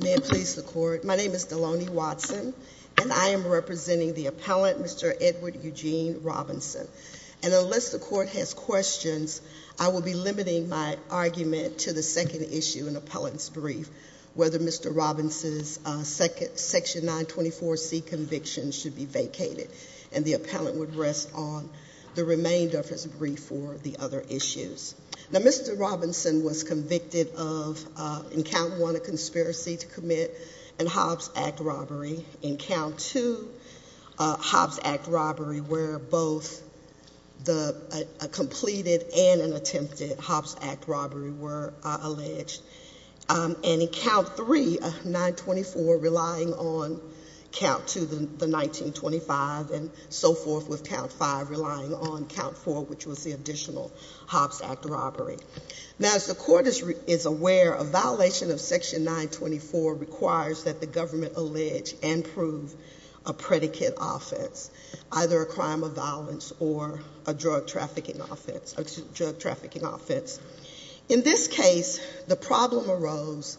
May it please the court, my name is Deloni Watson and I am representing the appellant Mr. Edward Eugene Robinson and unless the court has questions I will be limiting my argument to the second issue in the appellant's brief, whether Mr. Robinson's section 924 C conviction should be vacated and the appellant would rest on the remainder of his brief for the other issues. Now Mr. Robinson was convicted of in count 1 a conspiracy to commit a Hobbs Act robbery, in count 2 a Hobbs Act robbery where both a completed and an attempted Hobbs Act robbery were alleged, and in count 3 a 924 relying on count 2 the 1925 and so forth with count 5 relying on count 4 which was the additional Hobbs Act robbery. Now as the court is aware a violation of section 924 requires that the government allege and prove a predicate offense, either a crime of violence or a drug trafficking offense. In this case the problem arose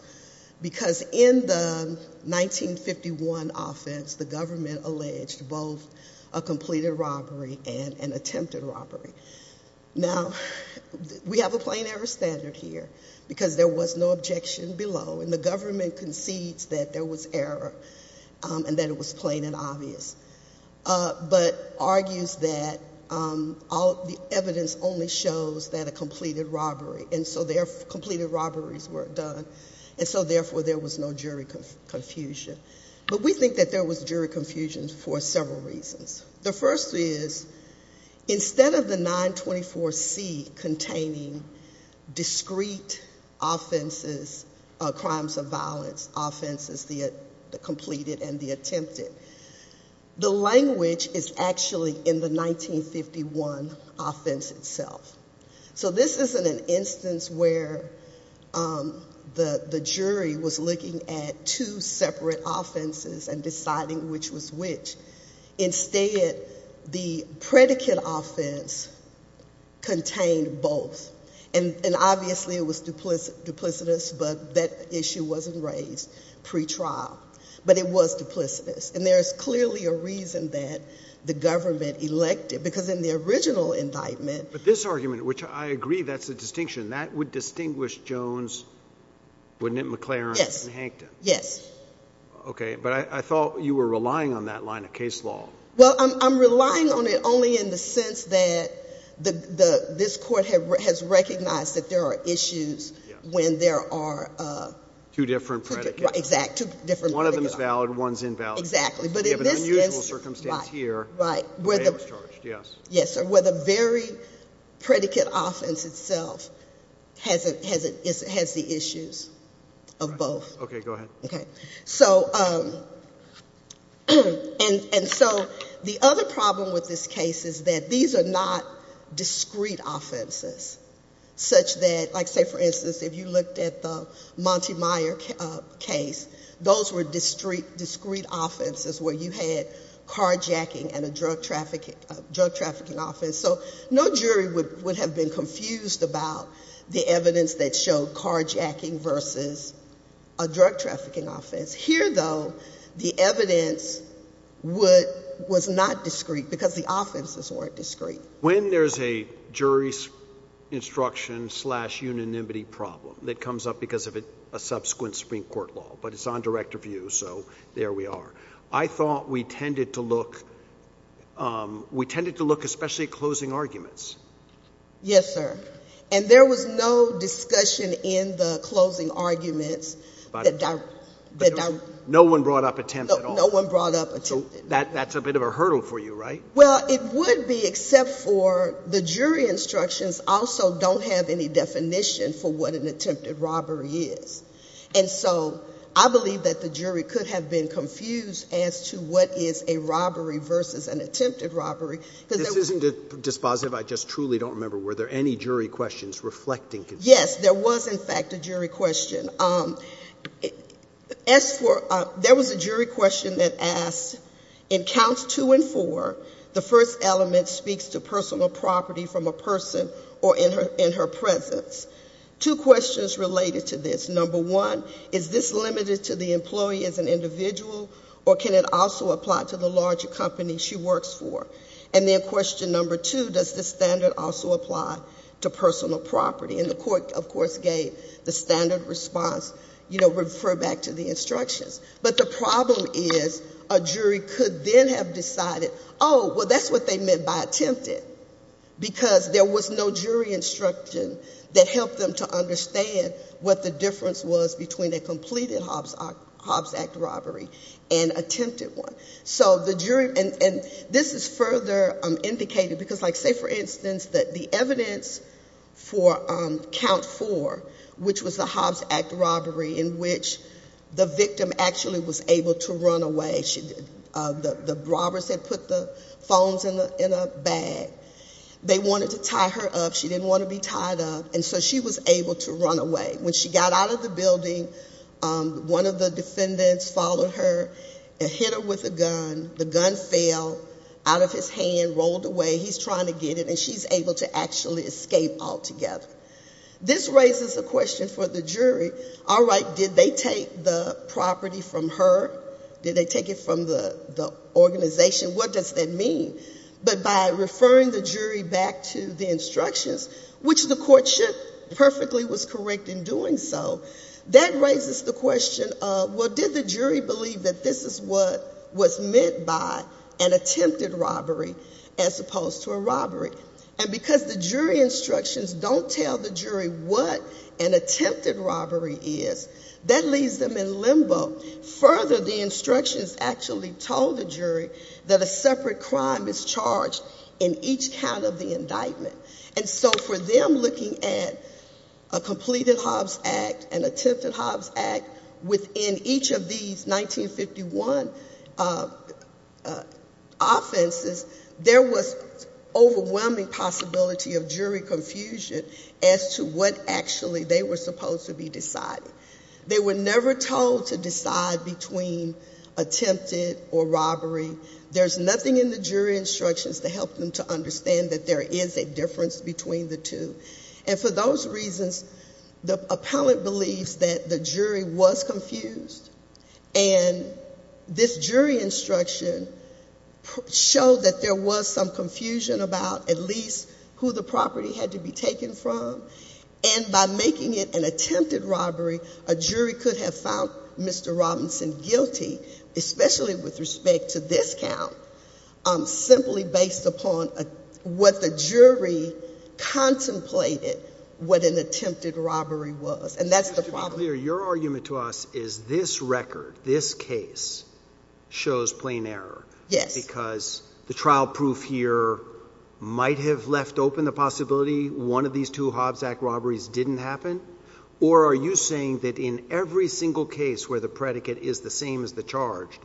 because in the 1951 offense the government alleged both a completed robbery and an attempted robbery. Now we have a plain error standard here because there was no objection below and the government concedes that there was error and that it was plain and obvious, but argues that the evidence only shows that a completed robbery, and so their completed robberies were done and so therefore there was no jury confusion. But we think that there was jury confusion for several reasons. The first is instead of the 924 C containing discrete offenses, crimes of violence offenses, the completed and the attempted, the language is actually in the 1951 offense itself. So this isn't an instance where the jury was looking at two separate offenses and deciding which was which. Instead the predicate offense contained both. And obviously it was duplicitous, but that issue wasn't raised pre-trial, but it was duplicitous. And there's clearly a reason that the government elected, because in the original indictment... But this argument, which I agree that's a distinction, that would distinguish Jones, wouldn't it, McLaren, and Hankton? Yes. Okay, but I thought you were saying that this court has recognized that there are issues when there are... Two different predicates. Exactly, two different predicates. One of them is valid, one is invalid. Exactly, but in this instance... We have an unusual circumstance here where they were charged, yes. Yes, sir, where the very predicate offense itself has the issues of both. Okay, go ahead. Okay. So... And so the other problem with this case is that these are not discrete offenses, such that, like say for instance, if you looked at the Montemayor case, those were discrete offenses where you had carjacking and a drug trafficking offense. So no jury would have been confused about the evidence that showed carjacking versus a drug trafficking offense. Here though, the evidence was not discrete because the offenses weren't discrete. When there's a jury's instruction slash unanimity problem that comes up because of a subsequent Supreme Court law, but it's on direct review, so there we are. I thought we tended to look... We tended to look especially at closing arguments. Yes, sir. And there was no discussion in the closing arguments that... No one brought up attempt at all. No one brought up attempt. So that's a bit of a hurdle for you, right? Well, it would be except for the jury instructions also don't have any definition for what an attempted robbery is. And so I believe that the jury could have been confused as to what is a robbery versus an attempted robbery. This isn't dispositive. I just truly don't remember, were there any jury questions reflecting... Yes, there was in fact a jury question. As for... There was a jury question that asked, in counts two and four, the first element speaks to personal property from a person or in her presence. Two questions related to this. Number one, is this limited to the employee as an individual or can it also apply to the larger company she works for? And then question number two, does the standard also apply to personal property? And the court of course gave the standard response, you know, refer back to the instructions. But the problem is a jury could then have decided, oh, well, that's what they meant by attempted because there was no jury instruction that helped them to understand what the difference was between a completed Hobbs Act robbery and attempted one. So the jury... And this is further indicated because, like, say for instance that the evidence for count four, which was the Hobbs Act robbery in which the victim actually was able to run away, the robbers had put the phones in a bag. They wanted to tie her up. She didn't want to be tied up. And so she was able to run away. When she got out of the building, one of the defendants followed her and hit her with a gun. The gun fell out of his hand, rolled away. He's trying to get it and she's able to actually escape altogether. This raises a question for the jury. All right, did they take the property from her? Did they take it from the organization? What does that mean? But by referring the jury back to the instructions, which the court should perfectly was correct in doing so, that raises the question of, well, did the jury believe that this is what was meant by an attempted robbery as opposed to a robbery? And because the jury instructions don't tell the jury what an attempted robbery is, that leaves them in limbo. Further, the instructions actually told the jury that a separate crime is charged in each count of the indictment. And so for them looking at a completed Hobbs Act and attempted Hobbs Act within each of these 1951 offenses, there was overwhelming possibility of jury confusion as to what actually they were supposed to be deciding. They were never told to decide between attempted or robbery. There's nothing in the jury instructions to help them to understand that there is a difference between the two. And for those reasons, the appellant believes that the jury was confused. And this jury instruction showed that there was some confusion about at least who the property had to be taken from. And by making it an attempted robbery, a jury could have found Mr. Robinson guilty, especially with respect to this count, simply based upon what the jury contemplated what an attempted robbery was. And that's the problem. Your argument to us is this record, this case, shows plain error. Yes. Because the trial proof here might have left open the possibility one of these two Hobbs Act robberies didn't happen? Or are you saying that in every single case where the predicate is the same as the charge,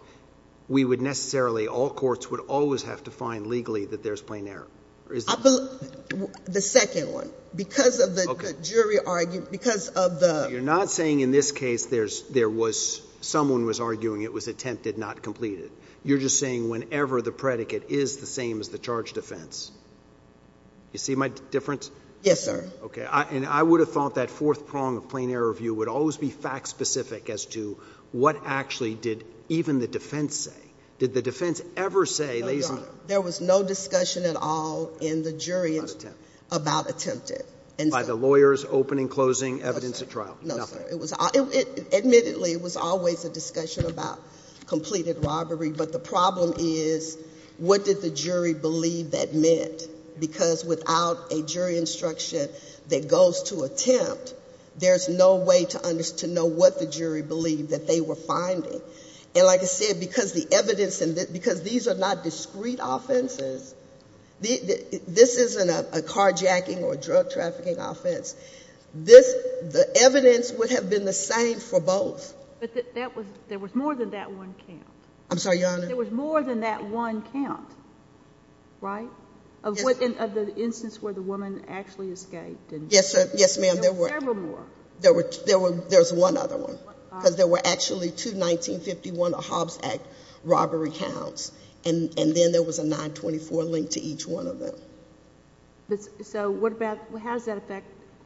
we would necessarily, all courts would always have to find legally that there's plain error? The second one. Because of the jury argument, because of the jury argument, you're not saying in this case there was, someone was arguing it was attempted, not completed. You're just saying whenever the predicate is the same as the charge defense. You see my difference? Yes, sir. Okay. And I would have thought that fourth prong of plain error view would always be fact-specific as to what actually did even the defense say. Did the defense ever say they... No, Your Honor. There was no discussion at all in the jury about attempted. And so... By the lawyers, opening, closing, evidence at trial. No, sir. Nothing. Admittedly, it was always a discussion about completed robbery. But the problem is, what did the jury believe that meant? Because without a jury instruction that goes to attempt, there's no way to know what the jury believed that they were finding. And like I said, because the evidence, because these are not discrete offenses, this isn't a carjacking or drug trafficking offense. The evidence would have been the same for both. But there was more than that one count. I'm sorry, Your Honor? There was more than that one count, right? Of the instance where the woman actually escaped. Yes, ma'am. There were several more. There was one other one. Because there were actually two 1951 Hobbs Act robbery counts. And then there was a 924 linked to each one of them. So what about, how does that affect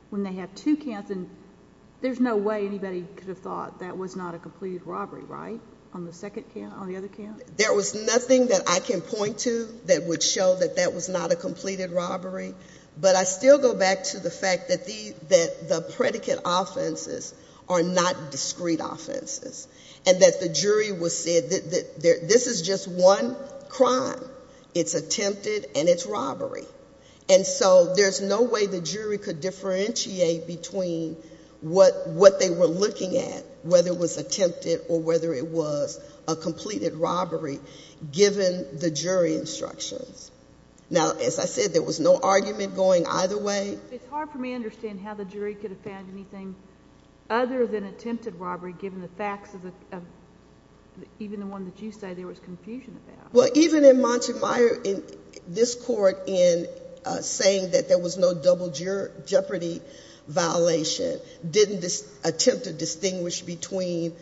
when they have two counts and there's no way anybody could have thought that was not a completed robbery, right? On the second count, on the other count? There was nothing that I can point to that would show that that was not a completed robbery. But I still go back to the fact that the predicate offenses are not discrete offenses. And that the jury would say that this is just one crime. It's attempted and it's robbery. And so there's no way the jury could differentiate between what they were looking at, whether it was attempted or whether it was a completed robbery given the jury instructions. Now, as I said, there was no argument going either way. It's hard for me to understand how the jury could have found anything other than attempted robbery given the facts of, even the one that you say there was confusion about. Well, even in Montemayor, this court in saying that there was no double jeopardy violation didn't attempt to distinguish between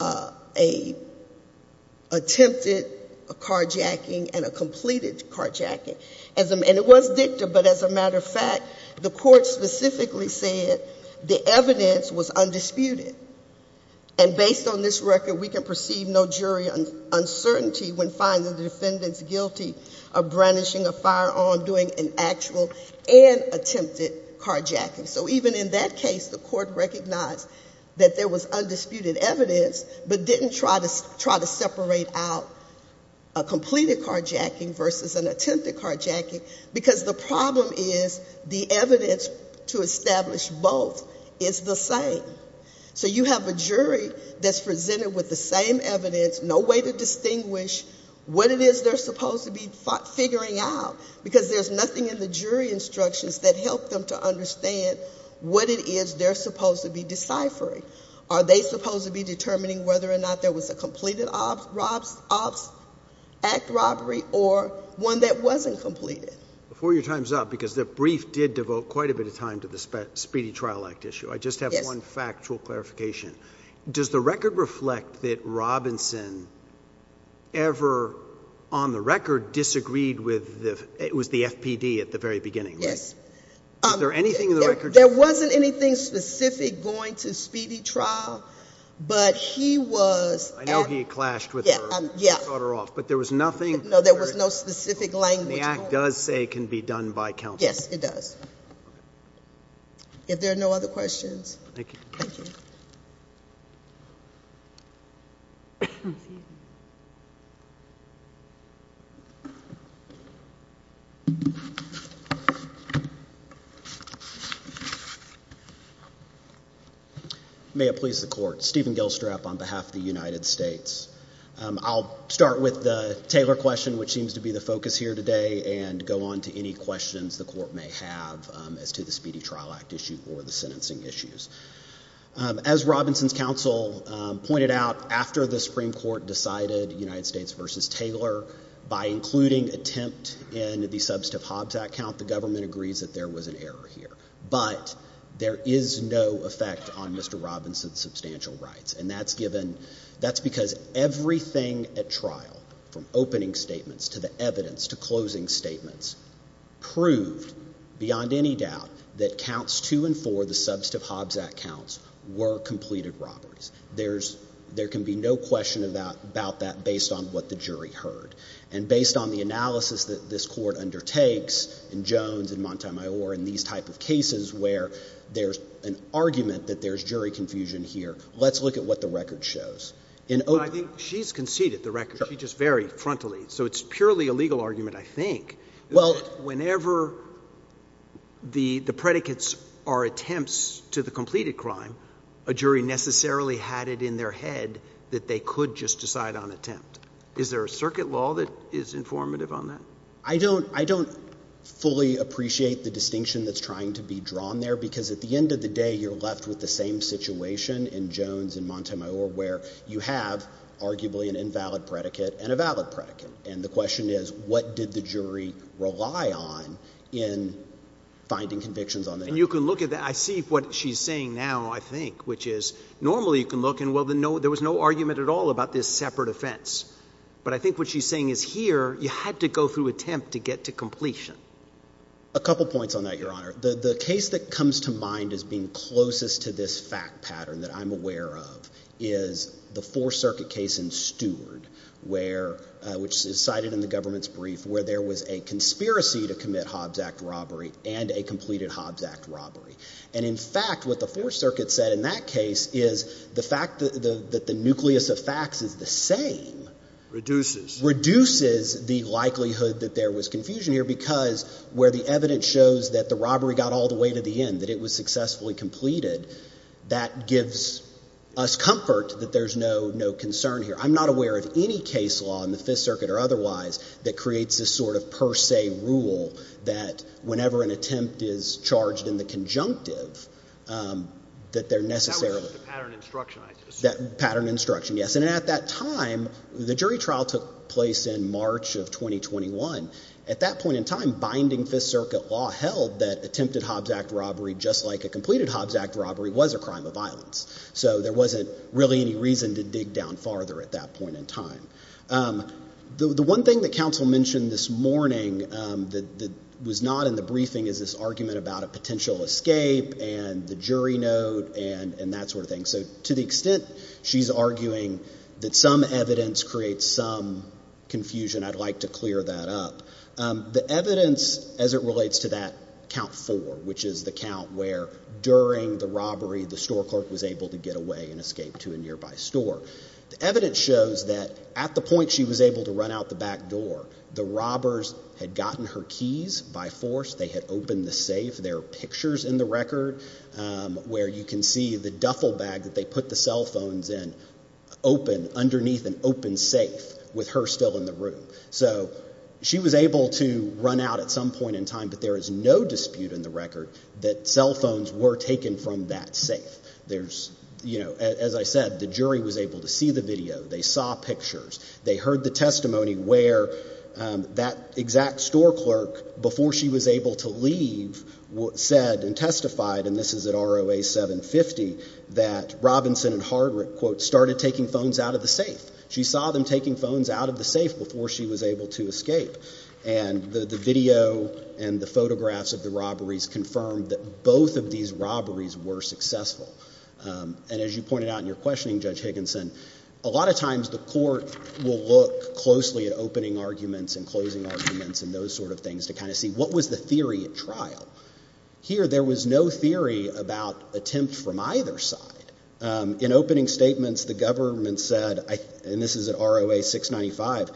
an attempted carjacking and a completed carjacking. And it was dicta, but as a matter of fact, the court specifically said the evidence was undisputed. And based on this record, we can find the defendants guilty of brandishing a firearm, doing an actual and attempted carjacking. So even in that case, the court recognized that there was undisputed evidence but didn't try to separate out a completed carjacking versus an attempted carjacking because the problem is the evidence to establish both is the same. So you have a jury that's presented with the same evidence, no way to distinguish what it is they're supposed to be figuring out because there's nothing in the jury instructions that help them to understand what it is they're supposed to be deciphering. Are they supposed to be determining whether or not there was a completed ops act robbery or one that wasn't completed? Before your time's up, because the brief did devote quite a bit of time to the Speedy Trial Act issue, I just have one factual clarification. Does the record reflect that Robinson ever on the record disagreed with the, it was the FPD at the very beginning, right? Yes. Is there anything in the record? There wasn't anything specific going to Speedy Trial, but he was... I know he clashed with her. Yeah. She caught her off. But there was nothing... No, there was no specific language. The act does say it can be done by counsel. Yes, it does. If there are no other questions. Thank you. Thank you. May it please the court. Stephen Gilstrap on behalf of the United States. I'll start with the Taylor question, which seems to be the focus here today, and go on to any questions the court may have as to the Speedy Trial Act issue or the sentencing issues. As Robinson's counsel pointed out, after the Supreme Court decided United States versus Taylor, by including attempt in the Substantive Hobbs Act count, the government agrees that there was an error here. But there is no effect on Mr. Robinson's substantial rights. And that's given, that's because everything at trial, from opening statements to the evidence to closing statements, proved beyond any doubt that counts two and four, the Substantive Hobbs Act counts, were completed robberies. There can be no question about that based on what the jury heard. And based on the analysis that this court undertakes in Jones and Montemayor and these type of cases where there's an argument that there's jury confusion here, let's look at what the record shows. I think she's conceded the record. She just varied frontally. So it's purely a critique. Whenever the predicates are attempts to the completed crime, a jury necessarily had it in their head that they could just decide on attempt. Is there a circuit law that is informative on that? I don't fully appreciate the distinction that's trying to be drawn there because at the end of the day you're left with the same situation in Jones and Montemayor where you have arguably an invalid predicate and a valid predicate. And the jury rely on in finding convictions on that. And you can look at that. I see what she's saying now, I think, which is normally you can look and, well, there was no argument at all about this separate offense. But I think what she's saying is here you had to go through attempt to get to completion. A couple points on that, Your Honor. The case that comes to mind as being closest to this fact pattern that I'm aware of is the Fourth Circuit case in Stewart, which is cited in the government's brief, where there was a conspiracy to commit Hobbs Act robbery and a completed Hobbs Act robbery. And, in fact, what the Fourth Circuit said in that case is the fact that the nucleus of facts is the same. Reduces. Reduces the likelihood that there was confusion here because where the evidence shows that the robbery got all the way to the end, that it was successfully completed, that gives us comfort that there's no concern here. I'm not aware of any case law in the Fifth Circuit or otherwise that creates this sort of per se rule that whenever an attempt is charged in the conjunctive, that they're necessarily. That was the pattern instruction, I assume. That pattern instruction, yes. And at that time, the jury trial took place in March of 2021. At that point in time, binding Fifth Circuit law held that attempted Hobbs Act robbery, just like a completed Hobbs Act robbery, was a crime of violence. So there wasn't really any reason to dig down farther at that point in time. The one thing that counsel mentioned this morning that was not in the briefing is this argument about a potential escape and the jury note and that sort of thing. So to the extent she's arguing that some evidence creates some confusion, I'd like to clear that up. The evidence as it relates to that count four, which is the count where during the robbery, the store clerk was able to get away and escape to a nearby store. The evidence shows that at the point she was able to run out the back door, the robbers had gotten her keys by force. They had opened the safe. There are pictures in the record where you can see the duffel bag that they put the cell phones in open underneath an open safe with her still in the room. So she was able to run out at some point in time, but there is no dispute in the record that cell phones were taken from that safe. As I said, the jury was able to see the video. They saw pictures. They heard the testimony where that exact store clerk, before she was able to leave, said and testified, and this is at ROA 750, that Robinson and Hardwick started taking phones out of the safe. She saw them taking phones out of the safe before she was able to escape. And the video and the photographs of the robberies confirmed that both of these And as you pointed out in your questioning, Judge Higginson, a lot of times the court will look closely at opening arguments and closing arguments and those sort of things to kind of see what was the theory at trial. Here, there was no theory about attempt from either side. In opening statements, the government said, and this is at ROA 695,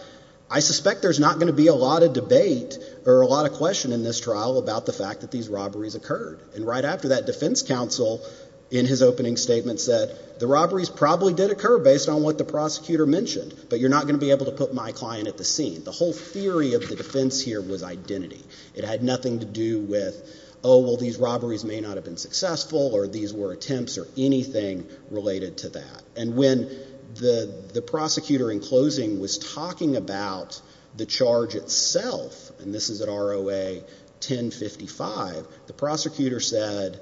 I suspect there's not going to be a lot of debate or a lot of question in this trial about the fact that these robberies occurred. And right after that, defense counsel, in his opening statement, said, the robberies probably did occur based on what the prosecutor mentioned, but you're not going to be able to put my client at the scene. The whole theory of the defense here was identity. It had nothing to do with, oh, well, these robberies may not have been successful or these were attempts or anything related to that. And when the prosecutor in closing was talking about the charge itself, and this is at ROA 1055, the prosecutor said,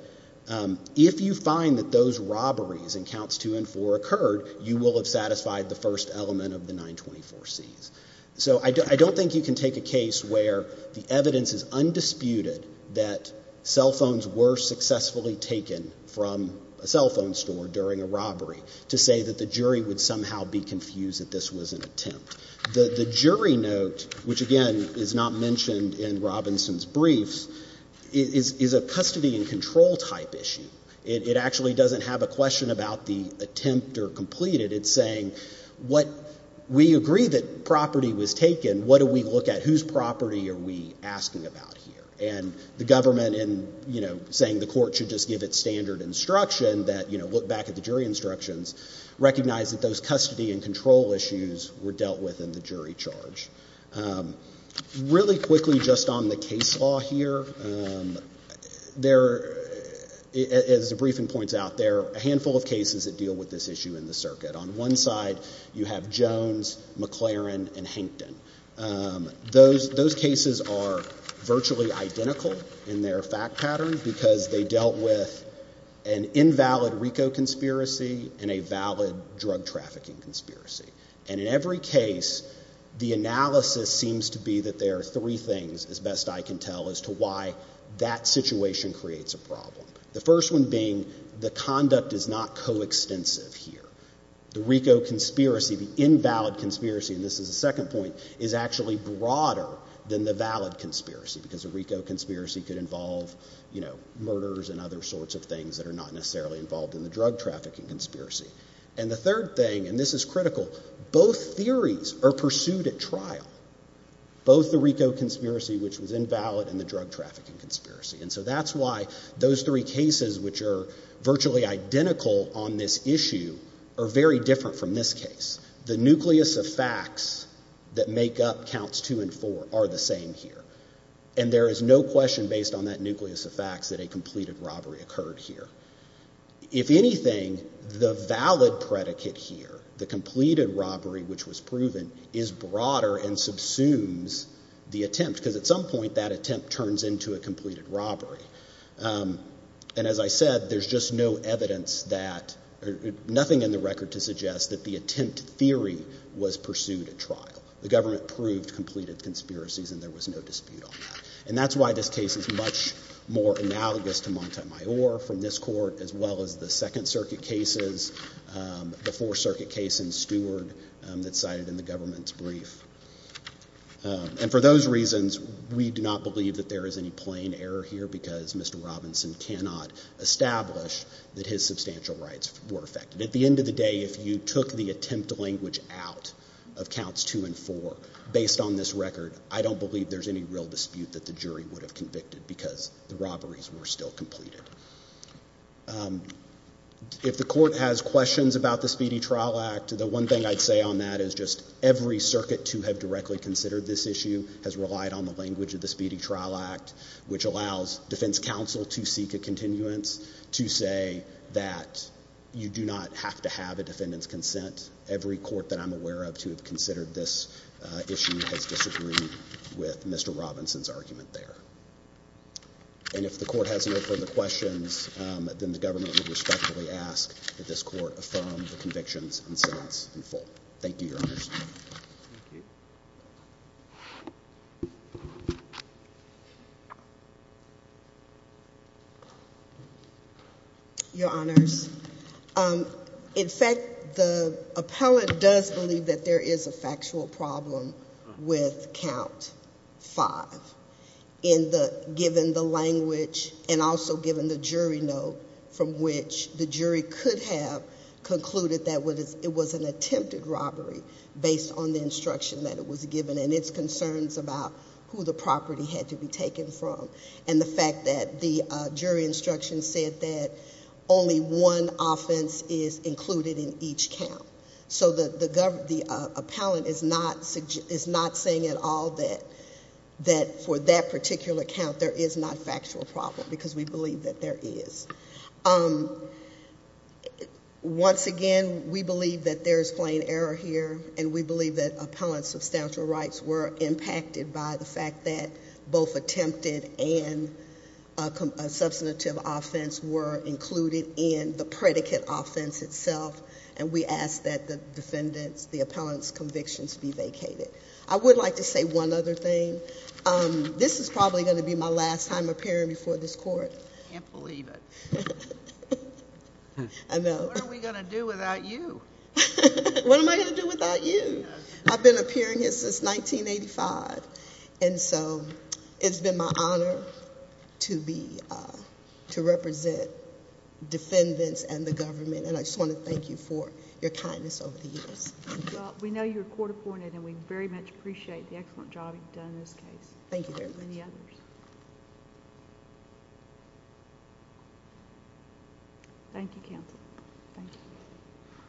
if you find that those robberies in counts two and four occurred, you will have satisfied the first element of the 924Cs. So I don't think you can take a case where the evidence is undisputed that cell phones were successfully taken from a cell phone store during a robbery to say that the jury would somehow be confused that this was an attempt. The jury note, which, again, is not mentioned in Robinson's briefs, is a custody and control type issue. It actually doesn't have a question about the attempt or completed. It's saying, we agree that property was taken. What do we look at? Whose property are we asking about here? And the government in saying the court should just give it standard instruction that look back at the jury instructions, recognize that those custody and control issues were dealt with in the jury charge. Really quickly, just on the case law here, there is, as the briefing points out, there are a handful of cases that deal with this issue in the circuit. On one side, you have Jones, McLaren, and Hankton. Those cases are virtually identical in their fact pattern because they dealt with an invalid RICO conspiracy and a valid drug trafficking conspiracy. And in every case, the analysis seems to be that there are three things, as best I can tell, as to why that situation creates a problem. The first one being the conduct is not coextensive here. The RICO conspiracy, the invalid conspiracy, and this is the second point, is actually broader than the valid conspiracy because a RICO conspiracy could involve murders and other sorts of things that are not necessarily involved in the drug trafficking conspiracy. And the third thing, and this is critical, both theories are pursued at trial. Both the RICO conspiracy, which was invalid, and the drug trafficking conspiracy. And so that's why those three cases, which are virtually identical on this issue, are very different from this case. The nucleus of facts that make up counts two and four are the same here. And there is no question based on that nucleus of facts that a completed robbery occurred here. If anything, the valid predicate here, the completed robbery which was proven, is broader and subsumes the attempt because at some point that attempt turns into a completed robbery. And as I said, there's just no evidence that, nothing in the record to suggest that the attempt theory was pursued at trial. The government proved completed conspiracies and there was no dispute on that. And that's why this case is much more analogous to Montemayor from this court as well as the Second Circuit cases, the Fourth Circuit case in Stewart that's cited in the government's brief. And for those reasons, we do not believe that there is any plain error here because Mr. Robinson cannot establish that his substantial rights were affected. At the end of the day, if you took the attempt language out of counts two and four, based on this record, I don't believe there's any real dispute that the jury would have convicted because the robberies were still completed. If the court has questions about the Speedy Trial Act, the one thing I'd say on that is just every circuit to have directly considered this issue has relied on the language of the Speedy Trial Act which allows defense counsel to seek a continuance to say that you do not have to have a defendant's consent. Every court that I'm aware of to have considered this issue has disagreed with Mr. Robinson's argument there. And if the court has no further questions, then the government would respectfully ask that this court affirm the convictions in silence and full. Thank you, Your Honors. Thank you. Your Honors, in fact, the appellate does believe that there is a factual problem with count five. Given the language and also given the jury note from which the jury could have concluded that it was an attempted robbery based on the instruction that it was given and its concerns about who the property had to be taken from and the fact that the jury instruction said that only one offense is included in each count. So the appellate is not saying at all that for that particular count there is not factual problem because we believe that there is. Once again, we believe that there is plain error here and we believe that appellant's substantial rights were impacted by the fact that both attempted and a substantive offense were included in the predicate offense itself. And we ask that the defendant's, the appellant's convictions be vacated. I would like to say one other thing. This is probably going to be my last time appearing before this court. I can't believe it. I know. What are we going to do without you? What am I going to do without you? I've been appearing here since 1985 and so it's been my honor to be, to represent defendants and the government and I just want to thank you for your kindness over the years. Well, we know you're a court appointed and we very much appreciate the excellent job you've done in this case. Thank you very much. Thank you counsel. Thank you.